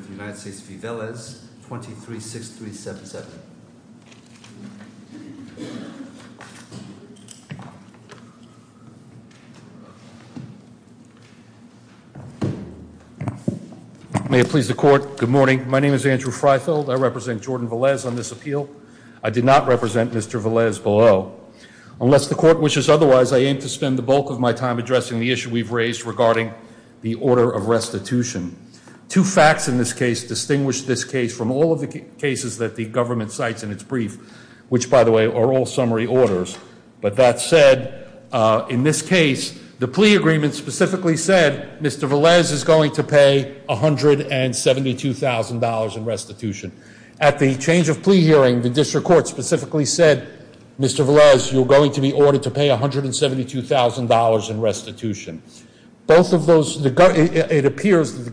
v. Velez, 236377. May it please the court, good morning. My name is Andrew Freifeld. I represent Jordan Velez on this appeal. I did not represent Mr. Velez below. Unless the court wishes otherwise, I aim to spend the bulk of my time addressing the issue we've raised regarding the order of restitution. Two facts in this case distinguish this case from all of the cases that the government cites in its brief, which, by the way, are all summary orders. But that said, in this case, the plea agreement specifically said Mr. Velez is going to pay $172,000 in restitution. At the change of plea hearing, the district court specifically said, Mr. Velez, you're going to be ordered to pay $172,000 in restitution. Both of those, it appears,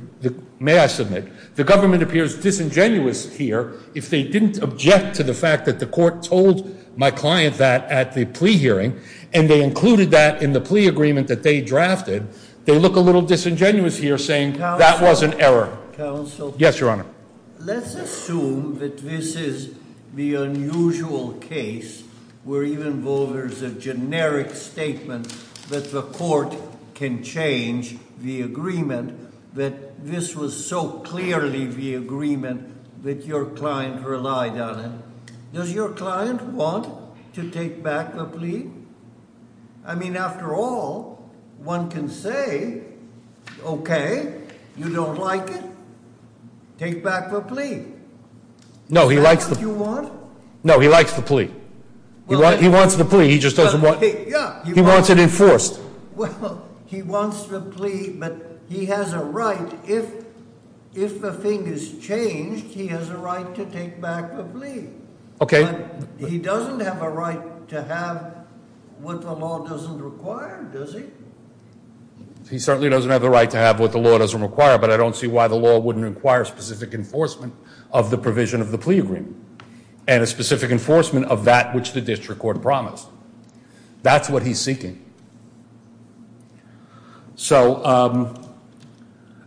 may I submit, the government appears disingenuous here. If they didn't object to the fact that the court told my client that at the plea hearing and they included that in the plea agreement that they drafted, they look a little disingenuous here saying that was an error. Counsel. Yes, Your Honor. Let's assume that this is the unusual case where even though there's a generic statement that the court can change the agreement, that this was so clearly the agreement that your client relied on it. Does your client want to take back the plea? I mean, after all, one can say, okay, you don't like it, take back the plea. No, he likes the- Is that what you want? No, he likes the plea. He wants the plea, he just doesn't want- Yeah. He wants it enforced. Well, he wants the plea, but he has a right, if the thing is changed, he has a right to take back the plea. Okay. And he doesn't have a right to have what the law doesn't require, does he? He certainly doesn't have a right to have what the law doesn't require, but I don't see why the law wouldn't require specific enforcement of the provision of the plea agreement and a specific enforcement of that which the district court promised. That's what he's So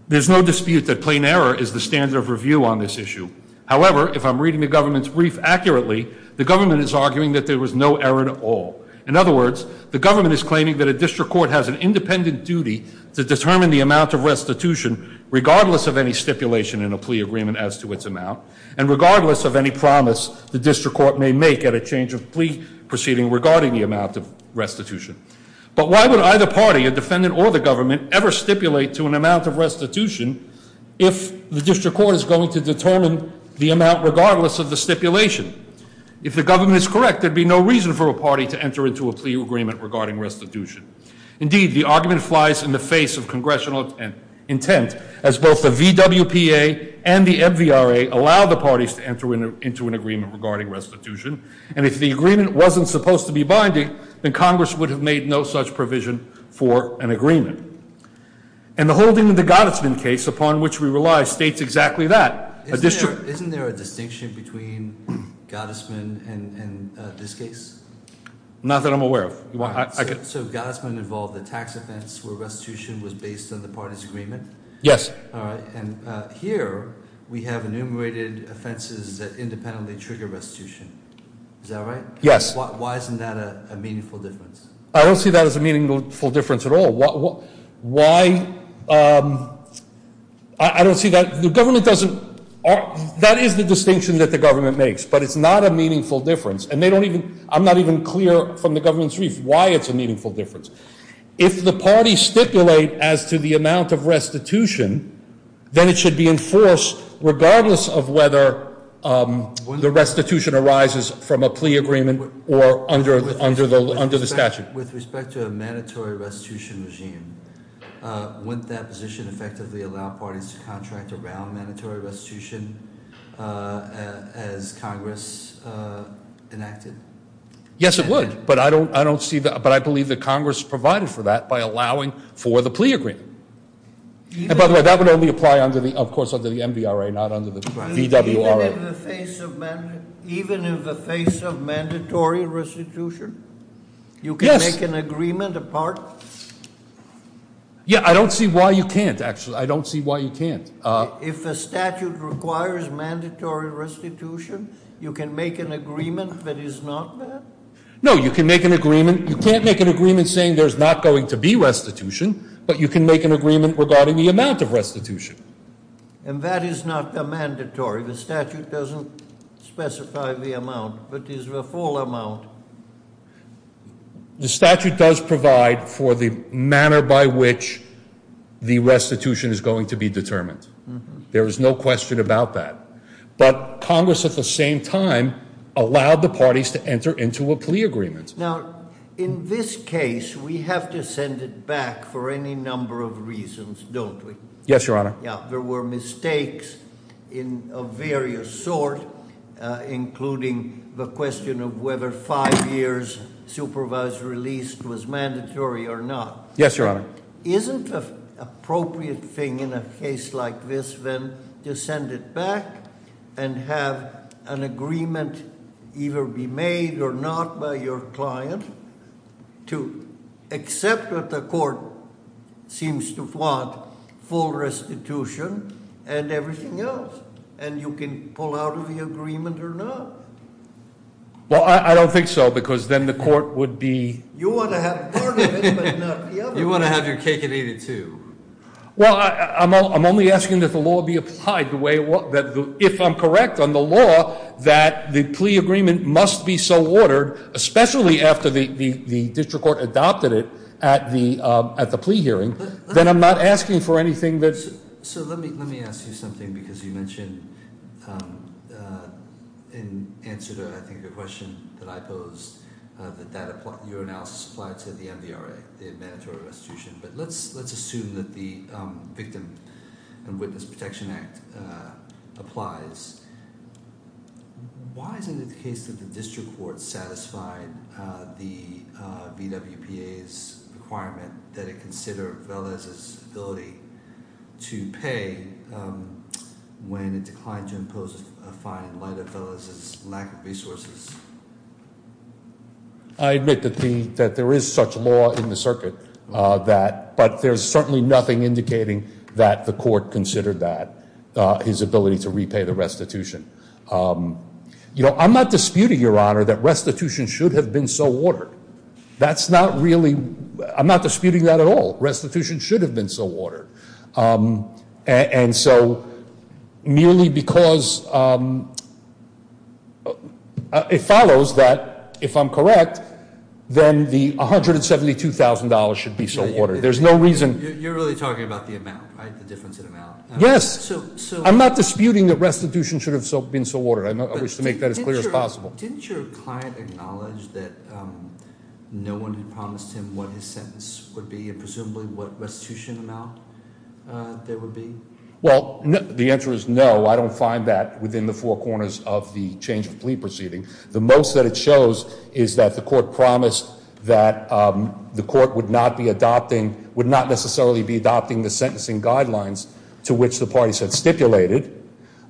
there's no dispute that plain error is the standard of review on this issue. However, if I'm reading the government's brief accurately, the government is arguing that there was no error at all. In other words, the government is claiming that a district court has an independent duty to determine the amount of restitution, regardless of any stipulation in a plea agreement as to its amount, and regardless of any promise the district court may make at a change of plea proceeding regarding the amount of restitution. But why would either party, a defendant or the government, ever stipulate to an amount of restitution if the district court is going to determine the amount regardless of the stipulation? If the government is correct, there'd be no reason for a party to enter into a plea agreement regarding restitution. Indeed, the argument flies in the face of congressional intent, as both the VWPA and the MVRA allow the parties to enter into an agreement regarding restitution. And if the agreement wasn't supposed to be binding, then Congress would have made no such provision for an agreement. And the holding of the Gottesman case, upon which we rely, states exactly that. Isn't there a distinction between Gottesman and this case? Not that I'm aware of. So Gottesman involved a tax offense where restitution was based on the party's agreement? Yes. And here, we have enumerated offenses that independently trigger restitution. Is that right? Yes. Why isn't that a meaningful difference? I don't see that as a meaningful difference at all. Why... I don't see that... The government doesn't... That is the distinction that the government makes, but it's not a meaningful difference. And they don't even... I'm not even clear from the government's brief why it's a meaningful difference. If the parties stipulate as to the amount of restitution, then it should be enforced regardless of whether the restitution arises from a plea agreement or under the statute. With respect to a mandatory restitution regime, wouldn't that position effectively allow parties to contract around mandatory restitution as Congress enacted? Yes, it would. But I don't see that... But I believe that Congress provided for that by allowing for the plea agreement. And by the way, that would only apply, of course, under the MDRA, not under the DWRA. Even in the face of mandatory restitution? Yes. You can make an agreement apart? Yeah, I don't see why you can't, actually. I don't see why you can't. If a statute requires mandatory restitution, you can make an agreement that is not that? No, you can make an agreement... You can't make an agreement saying there's not going to be restitution, but you can make an agreement regarding the amount of restitution. And that is not the mandatory? The statute doesn't specify the amount, but is the full amount? The statute does provide for the manner by which the restitution is going to be determined. There is no question about that. But Congress, at the same time, allowed the parties to enter into a plea agreement. Now, in this case, we have to send it back for any number of reasons, don't we? Yes, Your Honor. There were mistakes of various sorts, including the question of whether five years supervised release was mandatory or not. Yes, Your Honor. Isn't an appropriate thing in a case like this, then, to send it back and have an agreement either be made or not by your client, to accept that the court seems to want full restitution and everything else, and you can pull out of the agreement or not? Well, I don't think so, because then the court would be... You want to have part of it, but not the other part. You want to have your cake and eat it, too. Well, I'm only asking that the law be applied the way it was. If I'm correct on the law, that the plea agreement must be so ordered, especially after the district court adopted it at the plea hearing, then I'm not asking for anything that's... So let me ask you something, because you mentioned in answer to, I think, the question that I posed, that your analysis applied to the MVRA, the Mandatory Restitution. But let's assume that the Victim and Witness Protection Act applies. Why isn't it the case that the district court satisfied the VWPA's requirement that it consider Velez's ability to pay when it declined to impose a fine in light of Velez's lack of resources? I admit that there is such law in the circuit, but there's certainly nothing indicating that the court considered that, his ability to repay the restitution. You know, I'm not disputing, Your Honor, that restitution should have been so ordered. That's not really... I'm not disputing that at all. Restitution should have been so ordered. And so merely because it follows that, if I'm correct, then the $172,000 should be so ordered. There's no reason... You're really talking about the amount, right, the difference in amount? Yes. So... I'm not disputing that restitution should have been so ordered. I wish to make that as clear as possible. Didn't your client acknowledge that no one had promised him what his sentence would be, and presumably what restitution amount there would be? Well, the answer is no. I don't find that within the four corners of the change of plea proceeding. The most that it shows is that the court promised that the court would not be adopting... would not necessarily be adopting the sentencing guidelines to which the parties had stipulated,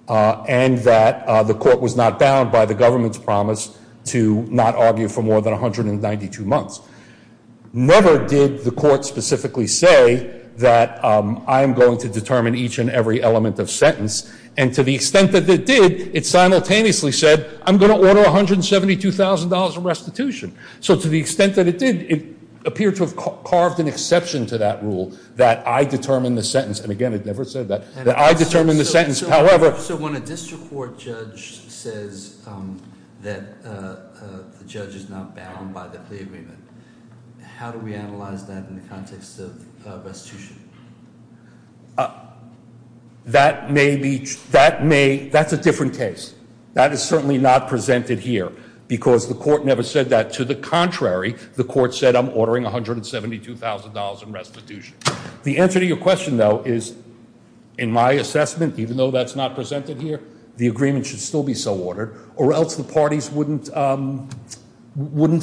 and that the court was not bound by the government's promise to not argue for more than 192 months. Never did the court specifically say that I'm going to determine each and every element of sentence, and to the extent that it did, it simultaneously said, I'm going to order $172,000 of restitution. So to the extent that it did, it appeared to have carved an exception to that rule, that I determine the sentence. And again, it never said that. That I determine the sentence. However... So when a district court judge says that the judge is not bound by the plea agreement, how do we analyze that in the context of restitution? That may be... That may... That's a different case. That is certainly not presented here, because the court never said that. To the contrary, the court said, I'm ordering $172,000 in restitution. The answer to your question, though, is, in my assessment, even though that's not presented here, the agreement should still be so ordered, or else the parties wouldn't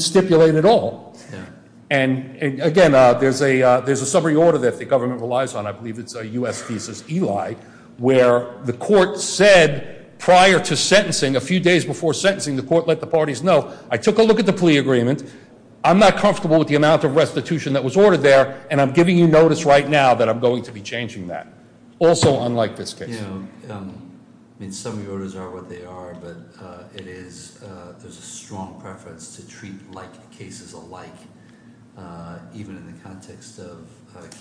stipulate at all. And again, there's a summary order that the government relies on. I believe it's a U.S. thesis ELI, where the court said prior to sentencing, a few days before sentencing, the court let the parties know, I took a look at the plea agreement, I'm not comfortable with the amount of restitution that was ordered there, and I'm giving you notice right now that I'm going to be changing that. Also unlike this case. I mean, summary orders are what they are, but it is... There's a strong preference to treat cases alike, even in the context of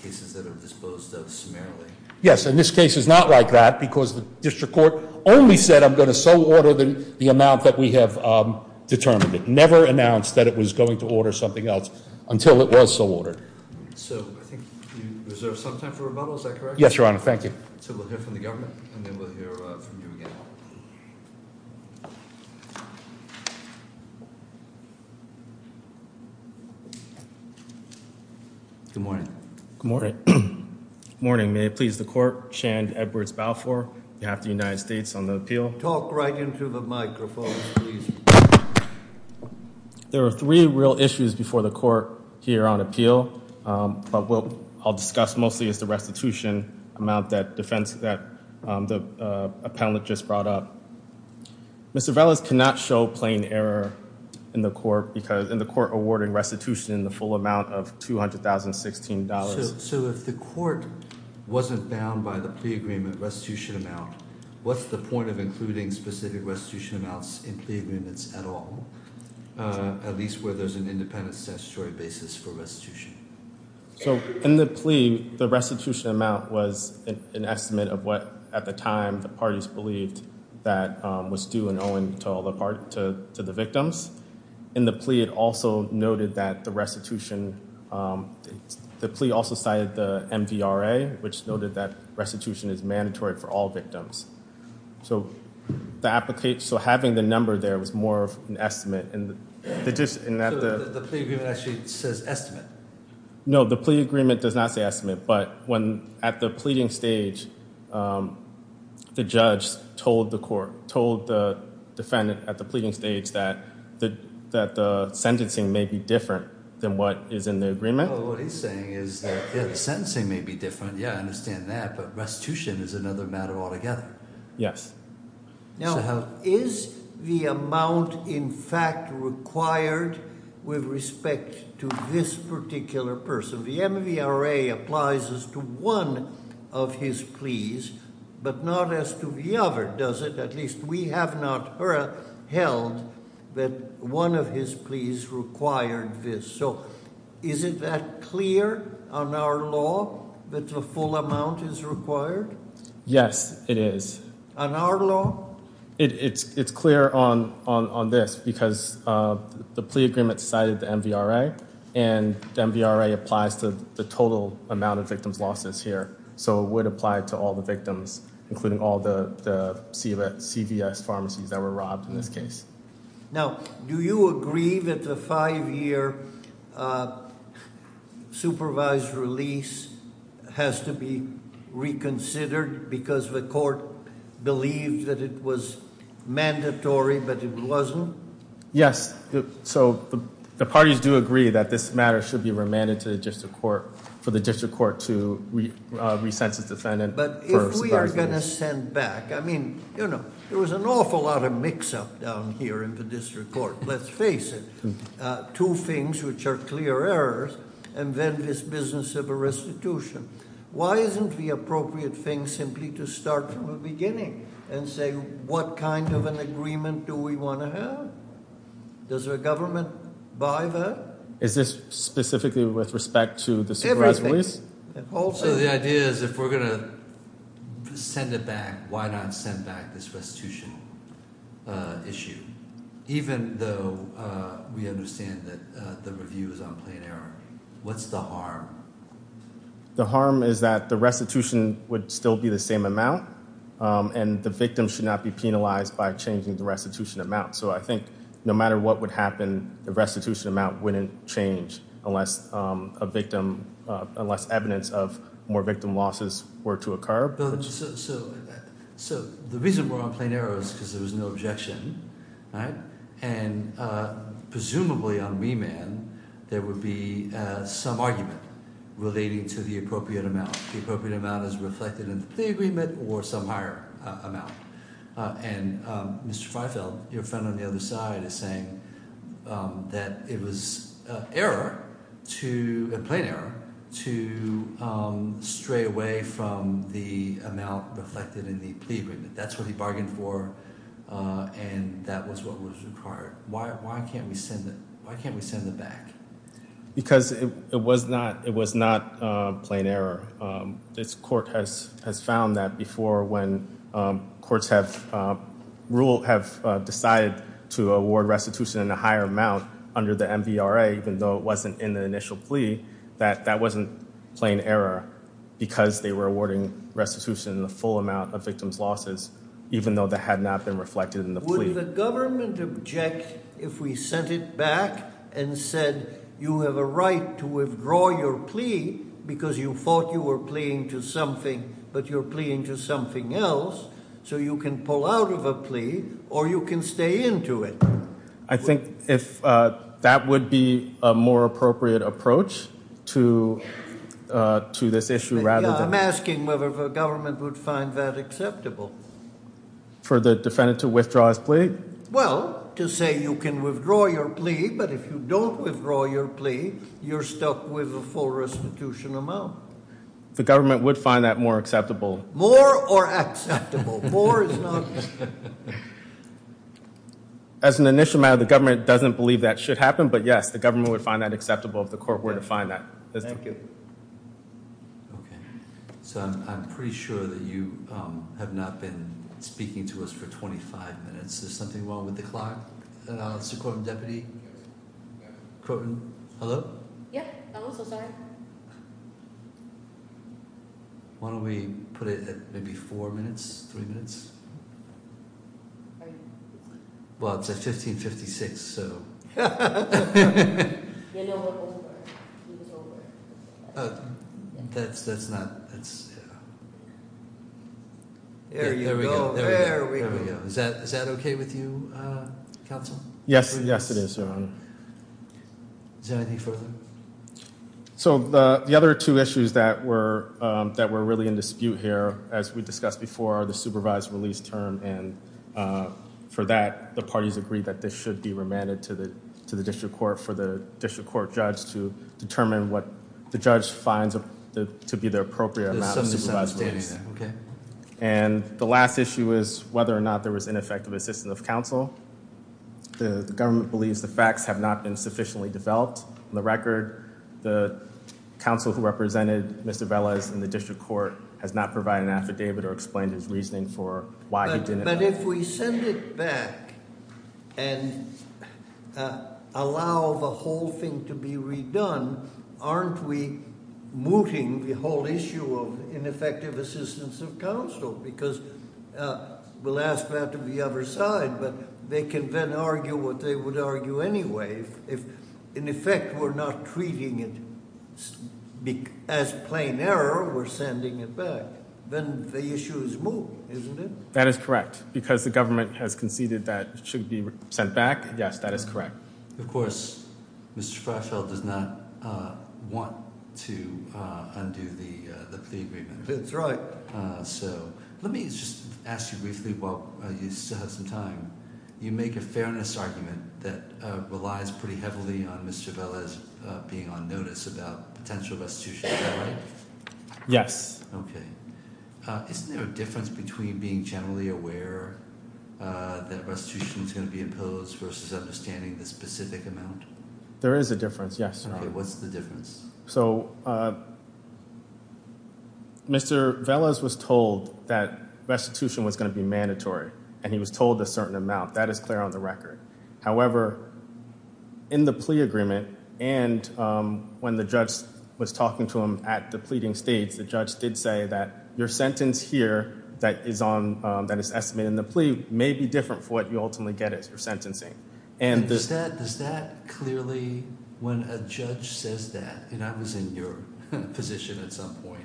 cases that are disposed of summarily. Yes, and this case is not like that, because the district court only said I'm going to so order the amount that we have determined. It never announced that it was going to order something else until it was so ordered. So I think you reserve some time for rebuttal, is that correct? Yes, Your Honor. Thank you. So we'll hear from the government, and then we'll hear from you again. Good morning. Good morning. Good morning. May it please the court, Shand Edwards Balfour, on behalf of the United States, on the appeal. Talk right into the microphone, please. There were three real issues before the court here on appeal, but what I'll discuss mostly is the restitution amount that the appellate just brought up. Mr. Velas cannot show plain error in the court awarding restitution in the full amount of $200,016. So if the court wasn't bound by the plea agreement restitution amount, what's the point of including specific restitution amounts in plea agreements at all, at least where there's an independent statutory basis for restitution? So in the plea, the restitution amount was an estimate of what, at the time, the parties believed that was due and owing to the victims. In the plea, it also noted that the restitution, the plea also cited the MVRA, which noted that restitution is mandatory for all victims. So having the number there was more of an estimate. So the plea agreement actually says estimate? No, the plea agreement does not say estimate. But at the pleading stage, the judge told the defendant at the pleading stage that the sentencing may be different than what is in the agreement. Oh, what he's saying is that the sentencing may be different. Yeah, I understand that, but restitution is another matter altogether. Yes. Now, is the amount in fact required with respect to this particular person? The MVRA applies as to one of his pleas, but not as to the other, does it? At least we have not held that one of his pleas required this. So is it that clear on our law that the full amount is required? Yes, it is. On our law? It's clear on this because the plea agreement cited the MVRA, and the MVRA applies to the total amount of victims' losses here. So it would apply to all the victims, including all the CVS pharmacies that were robbed in this case. Now, do you agree that the five-year supervised release has to be reconsidered because the court believed that it was mandatory, but it wasn't? Yes. So the parties do agree that this matter should be remanded to the district court for the district court to re-sense its defendant for supervised release. But if we are going to send back, I mean, you know, there was an awful lot of mix-up down here in the district court. Let's face it, two things which are clear errors, and then this business of a restitution. Why isn't the appropriate thing simply to start from the beginning and say what kind of an agreement do we want to have? Does the government buy that? Is this specifically with respect to the supervised release? Also, the idea is if we're going to send it back, why not send back this restitution issue, even though we understand that the review is on plain error? What's the harm? The harm is that the restitution would still be the same amount, and the victim should not be penalized by changing the restitution amount. So I think no matter what would happen, the restitution amount wouldn't change unless evidence of more victim losses were to occur. So the reason we're on plain error is because there was no objection, right? And presumably on remand, there would be some argument relating to the appropriate amount. The appropriate amount is reflected in the plea agreement or some higher amount. And Mr. Freifeld, your friend on the other side, is saying that it was error to— a plain error to stray away from the amount reflected in the plea agreement. That's what he bargained for, and that was what was required. Why can't we send it back? Because it was not plain error. This court has found that before when courts have ruled— have decided to award restitution in a higher amount under the MVRA, even though it wasn't in the initial plea, that that wasn't plain error because they were awarding restitution in the full amount of victims' losses, even though that had not been reflected in the plea. Would the government object if we sent it back and said, you have a right to withdraw your plea because you thought you were pleading to something, but you're pleading to something else, so you can pull out of a plea or you can stay into it? I think that would be a more appropriate approach to this issue rather than— I'm asking whether the government would find that acceptable. For the defendant to withdraw his plea? Well, to say you can withdraw your plea, but if you don't withdraw your plea, you're stuck with a full restitution amount. The government would find that more acceptable. More or acceptable? More is not— As an initial matter, the government doesn't believe that should happen, but yes, the government would find that acceptable if the court were to find that. Thank you. Okay. So I'm pretty sure that you have not been speaking to us for 25 minutes. Is there something wrong with the clock? Mr. Corwin-Deputy? Corwin, hello? Yeah, I'm also sorry. Why don't we put it at maybe four minutes, three minutes? Are you— Well, it's at 1556, so— You know what will work. That's not— There you go. There we go. Is that okay with you, counsel? Yes. Yes, it is, Your Honor. Is there anything further? So the other two issues that were really in dispute here, as we discussed before, are the supervised release term, and for that, the parties agreed that this should be remanded to the district court for the district court judge to determine what the judge finds to be the appropriate amount of supervised release. Okay. And the last issue is whether or not there was ineffective assistance of counsel. The government believes the facts have not been sufficiently developed. On the record, the counsel who represented Mr. Velez in the district court has not provided an affidavit or explained his reasoning for why he didn't— But if we send it back and allow the whole thing to be redone, aren't we mooting the whole issue of ineffective assistance of counsel? Because we'll ask that of the other side, but they can then argue what they would argue anyway. If, in effect, we're not treating it as plain error, we're sending it back, then the issue is moot, isn't it? That is correct. Because the government has conceded that it should be sent back, yes, that is correct. Of course, Mr. Freifeld does not want to undo the plea agreement. That's right. So let me just ask you briefly while you still have some time. You make a fairness argument that relies pretty heavily on Mr. Velez being on notice about potential restitution. Is that right? Yes. Okay. Isn't there a difference between being generally aware that restitution is going to be imposed versus understanding the specific amount? There is a difference, yes. Okay. What's the difference? So Mr. Velez was told that restitution was going to be mandatory, and he was told a certain amount. That is clear on the record. However, in the plea agreement and when the judge was talking to him at the pleading stage, the judge did say that your sentence here that is estimated in the plea may be different from what you ultimately get as your sentencing. Does that clearly, when a judge says that, and I was in your position at some point,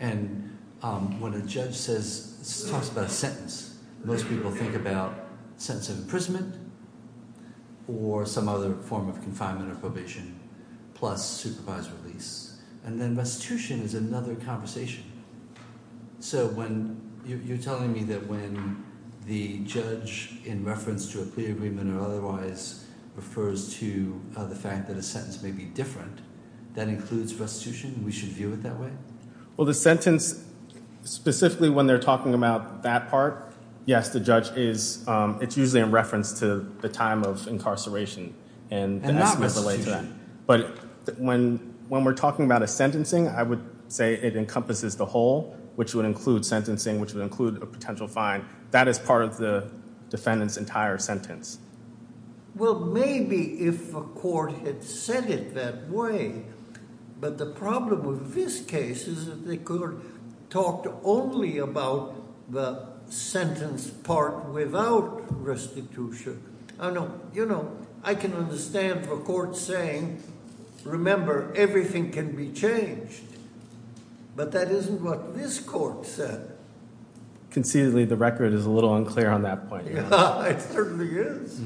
and when a judge talks about a sentence, most people think about a sentence of imprisonment or some other form of confinement or probation plus supervised release. And then restitution is another conversation. So you're telling me that when the judge, in reference to a plea agreement or otherwise, refers to the fact that a sentence may be different, that includes restitution and we should view it that way? Well, the sentence, specifically when they're talking about that part, yes, the judge is, it's usually in reference to the time of incarceration. And not restitution. But when we're talking about a sentencing, I would say it encompasses the whole, which would include sentencing, which would include a potential fine. That is part of the defendant's entire sentence. Well, maybe if a court had said it that way. But the problem with this case is that they could have talked only about the sentence part without restitution. You know, I can understand the court saying, remember, everything can be changed. But that isn't what this court said. Conceitedly, the record is a little unclear on that point. It certainly is.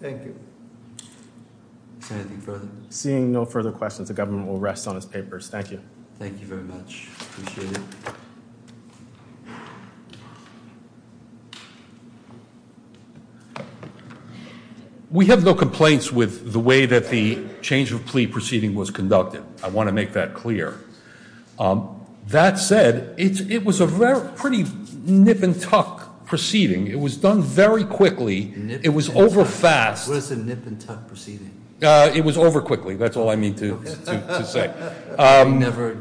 Thank you. Anything further? Seeing no further questions, the government will rest on its papers. Thank you. Thank you very much. Appreciate it. We have no complaints with the way that the change of plea proceeding was conducted. I want to make that clear. That said, it was a pretty nip and tuck proceeding. It was done very quickly. It was over fast. What is a nip and tuck proceeding? It was over quickly. That's all I need to say. Never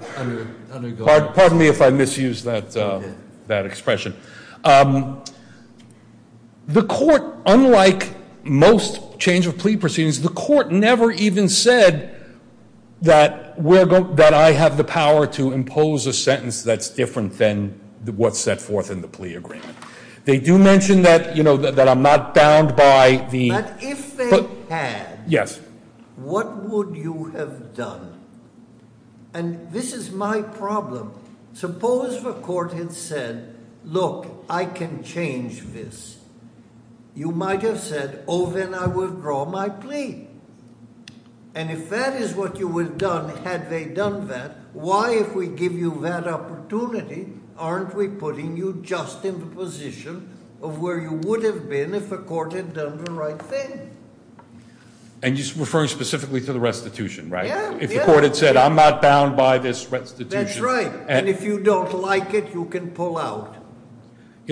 undergo. Pardon me if I misused that expression. The court, unlike most change of plea proceedings, the court never even said that I have the power to impose a sentence that's different than what's set forth in the plea agreement. They do mention that I'm not bound by the- But if they had- Yes. What would you have done? And this is my problem. Suppose the court had said, look, I can change this. You might have said, oh, then I withdraw my plea. And if that is what you would have done had they done that, why, if we give you that opportunity, aren't we putting you just in the position of where you would have been if the court had done the right thing? And you're referring specifically to the restitution, right? Yeah. If the court had said, I'm not bound by this restitution- That's right. And if you don't like it, you can pull out.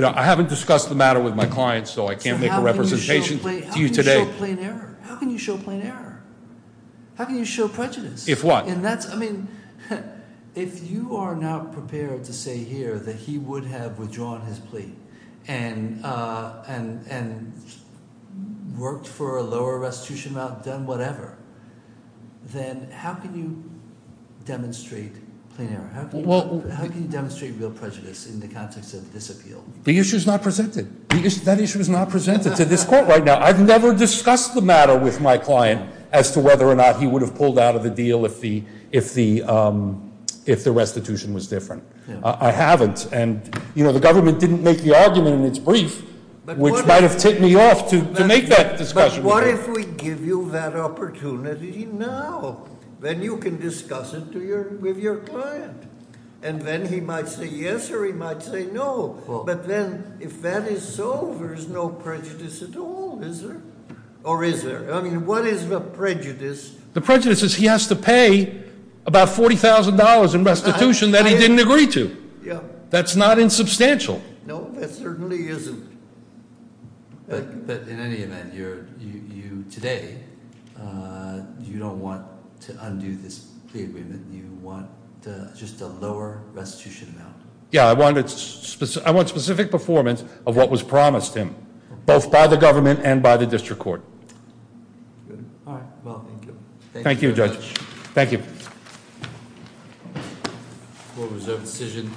I haven't discussed the matter with my clients, so I can't make a representation to you today. How can you show plain error? How can you show plain error? How can you show prejudice? If what? I mean, if you are not prepared to say here that he would have withdrawn his plea and worked for a lower restitution amount, done whatever, then how can you demonstrate plain error? How can you demonstrate real prejudice in the context of this appeal? The issue is not presented. That issue is not presented to this court right now. I've never discussed the matter with my client as to whether or not he would have pulled out of the deal if the restitution was different. I haven't. And the government didn't make the argument in its brief, which might have ticked me off to make that discussion. But what if we give you that opportunity now? Then you can discuss it with your client. And then he might say yes or he might say no. But then, if that is so, there's no prejudice at all, is there? Or is there? I mean, what is the prejudice? The prejudice is he has to pay about $40,000 in restitution that he didn't agree to. Yeah. That's not insubstantial. No, that certainly isn't. But in any event, today, you don't want to undo this plea agreement. You want just a lower restitution amount. Yeah. I want specific performance of what was promised him, both by the government and by the district court. Good. All right. Well, thank you. Thank you, Judge. Thank you. Court reserved decision.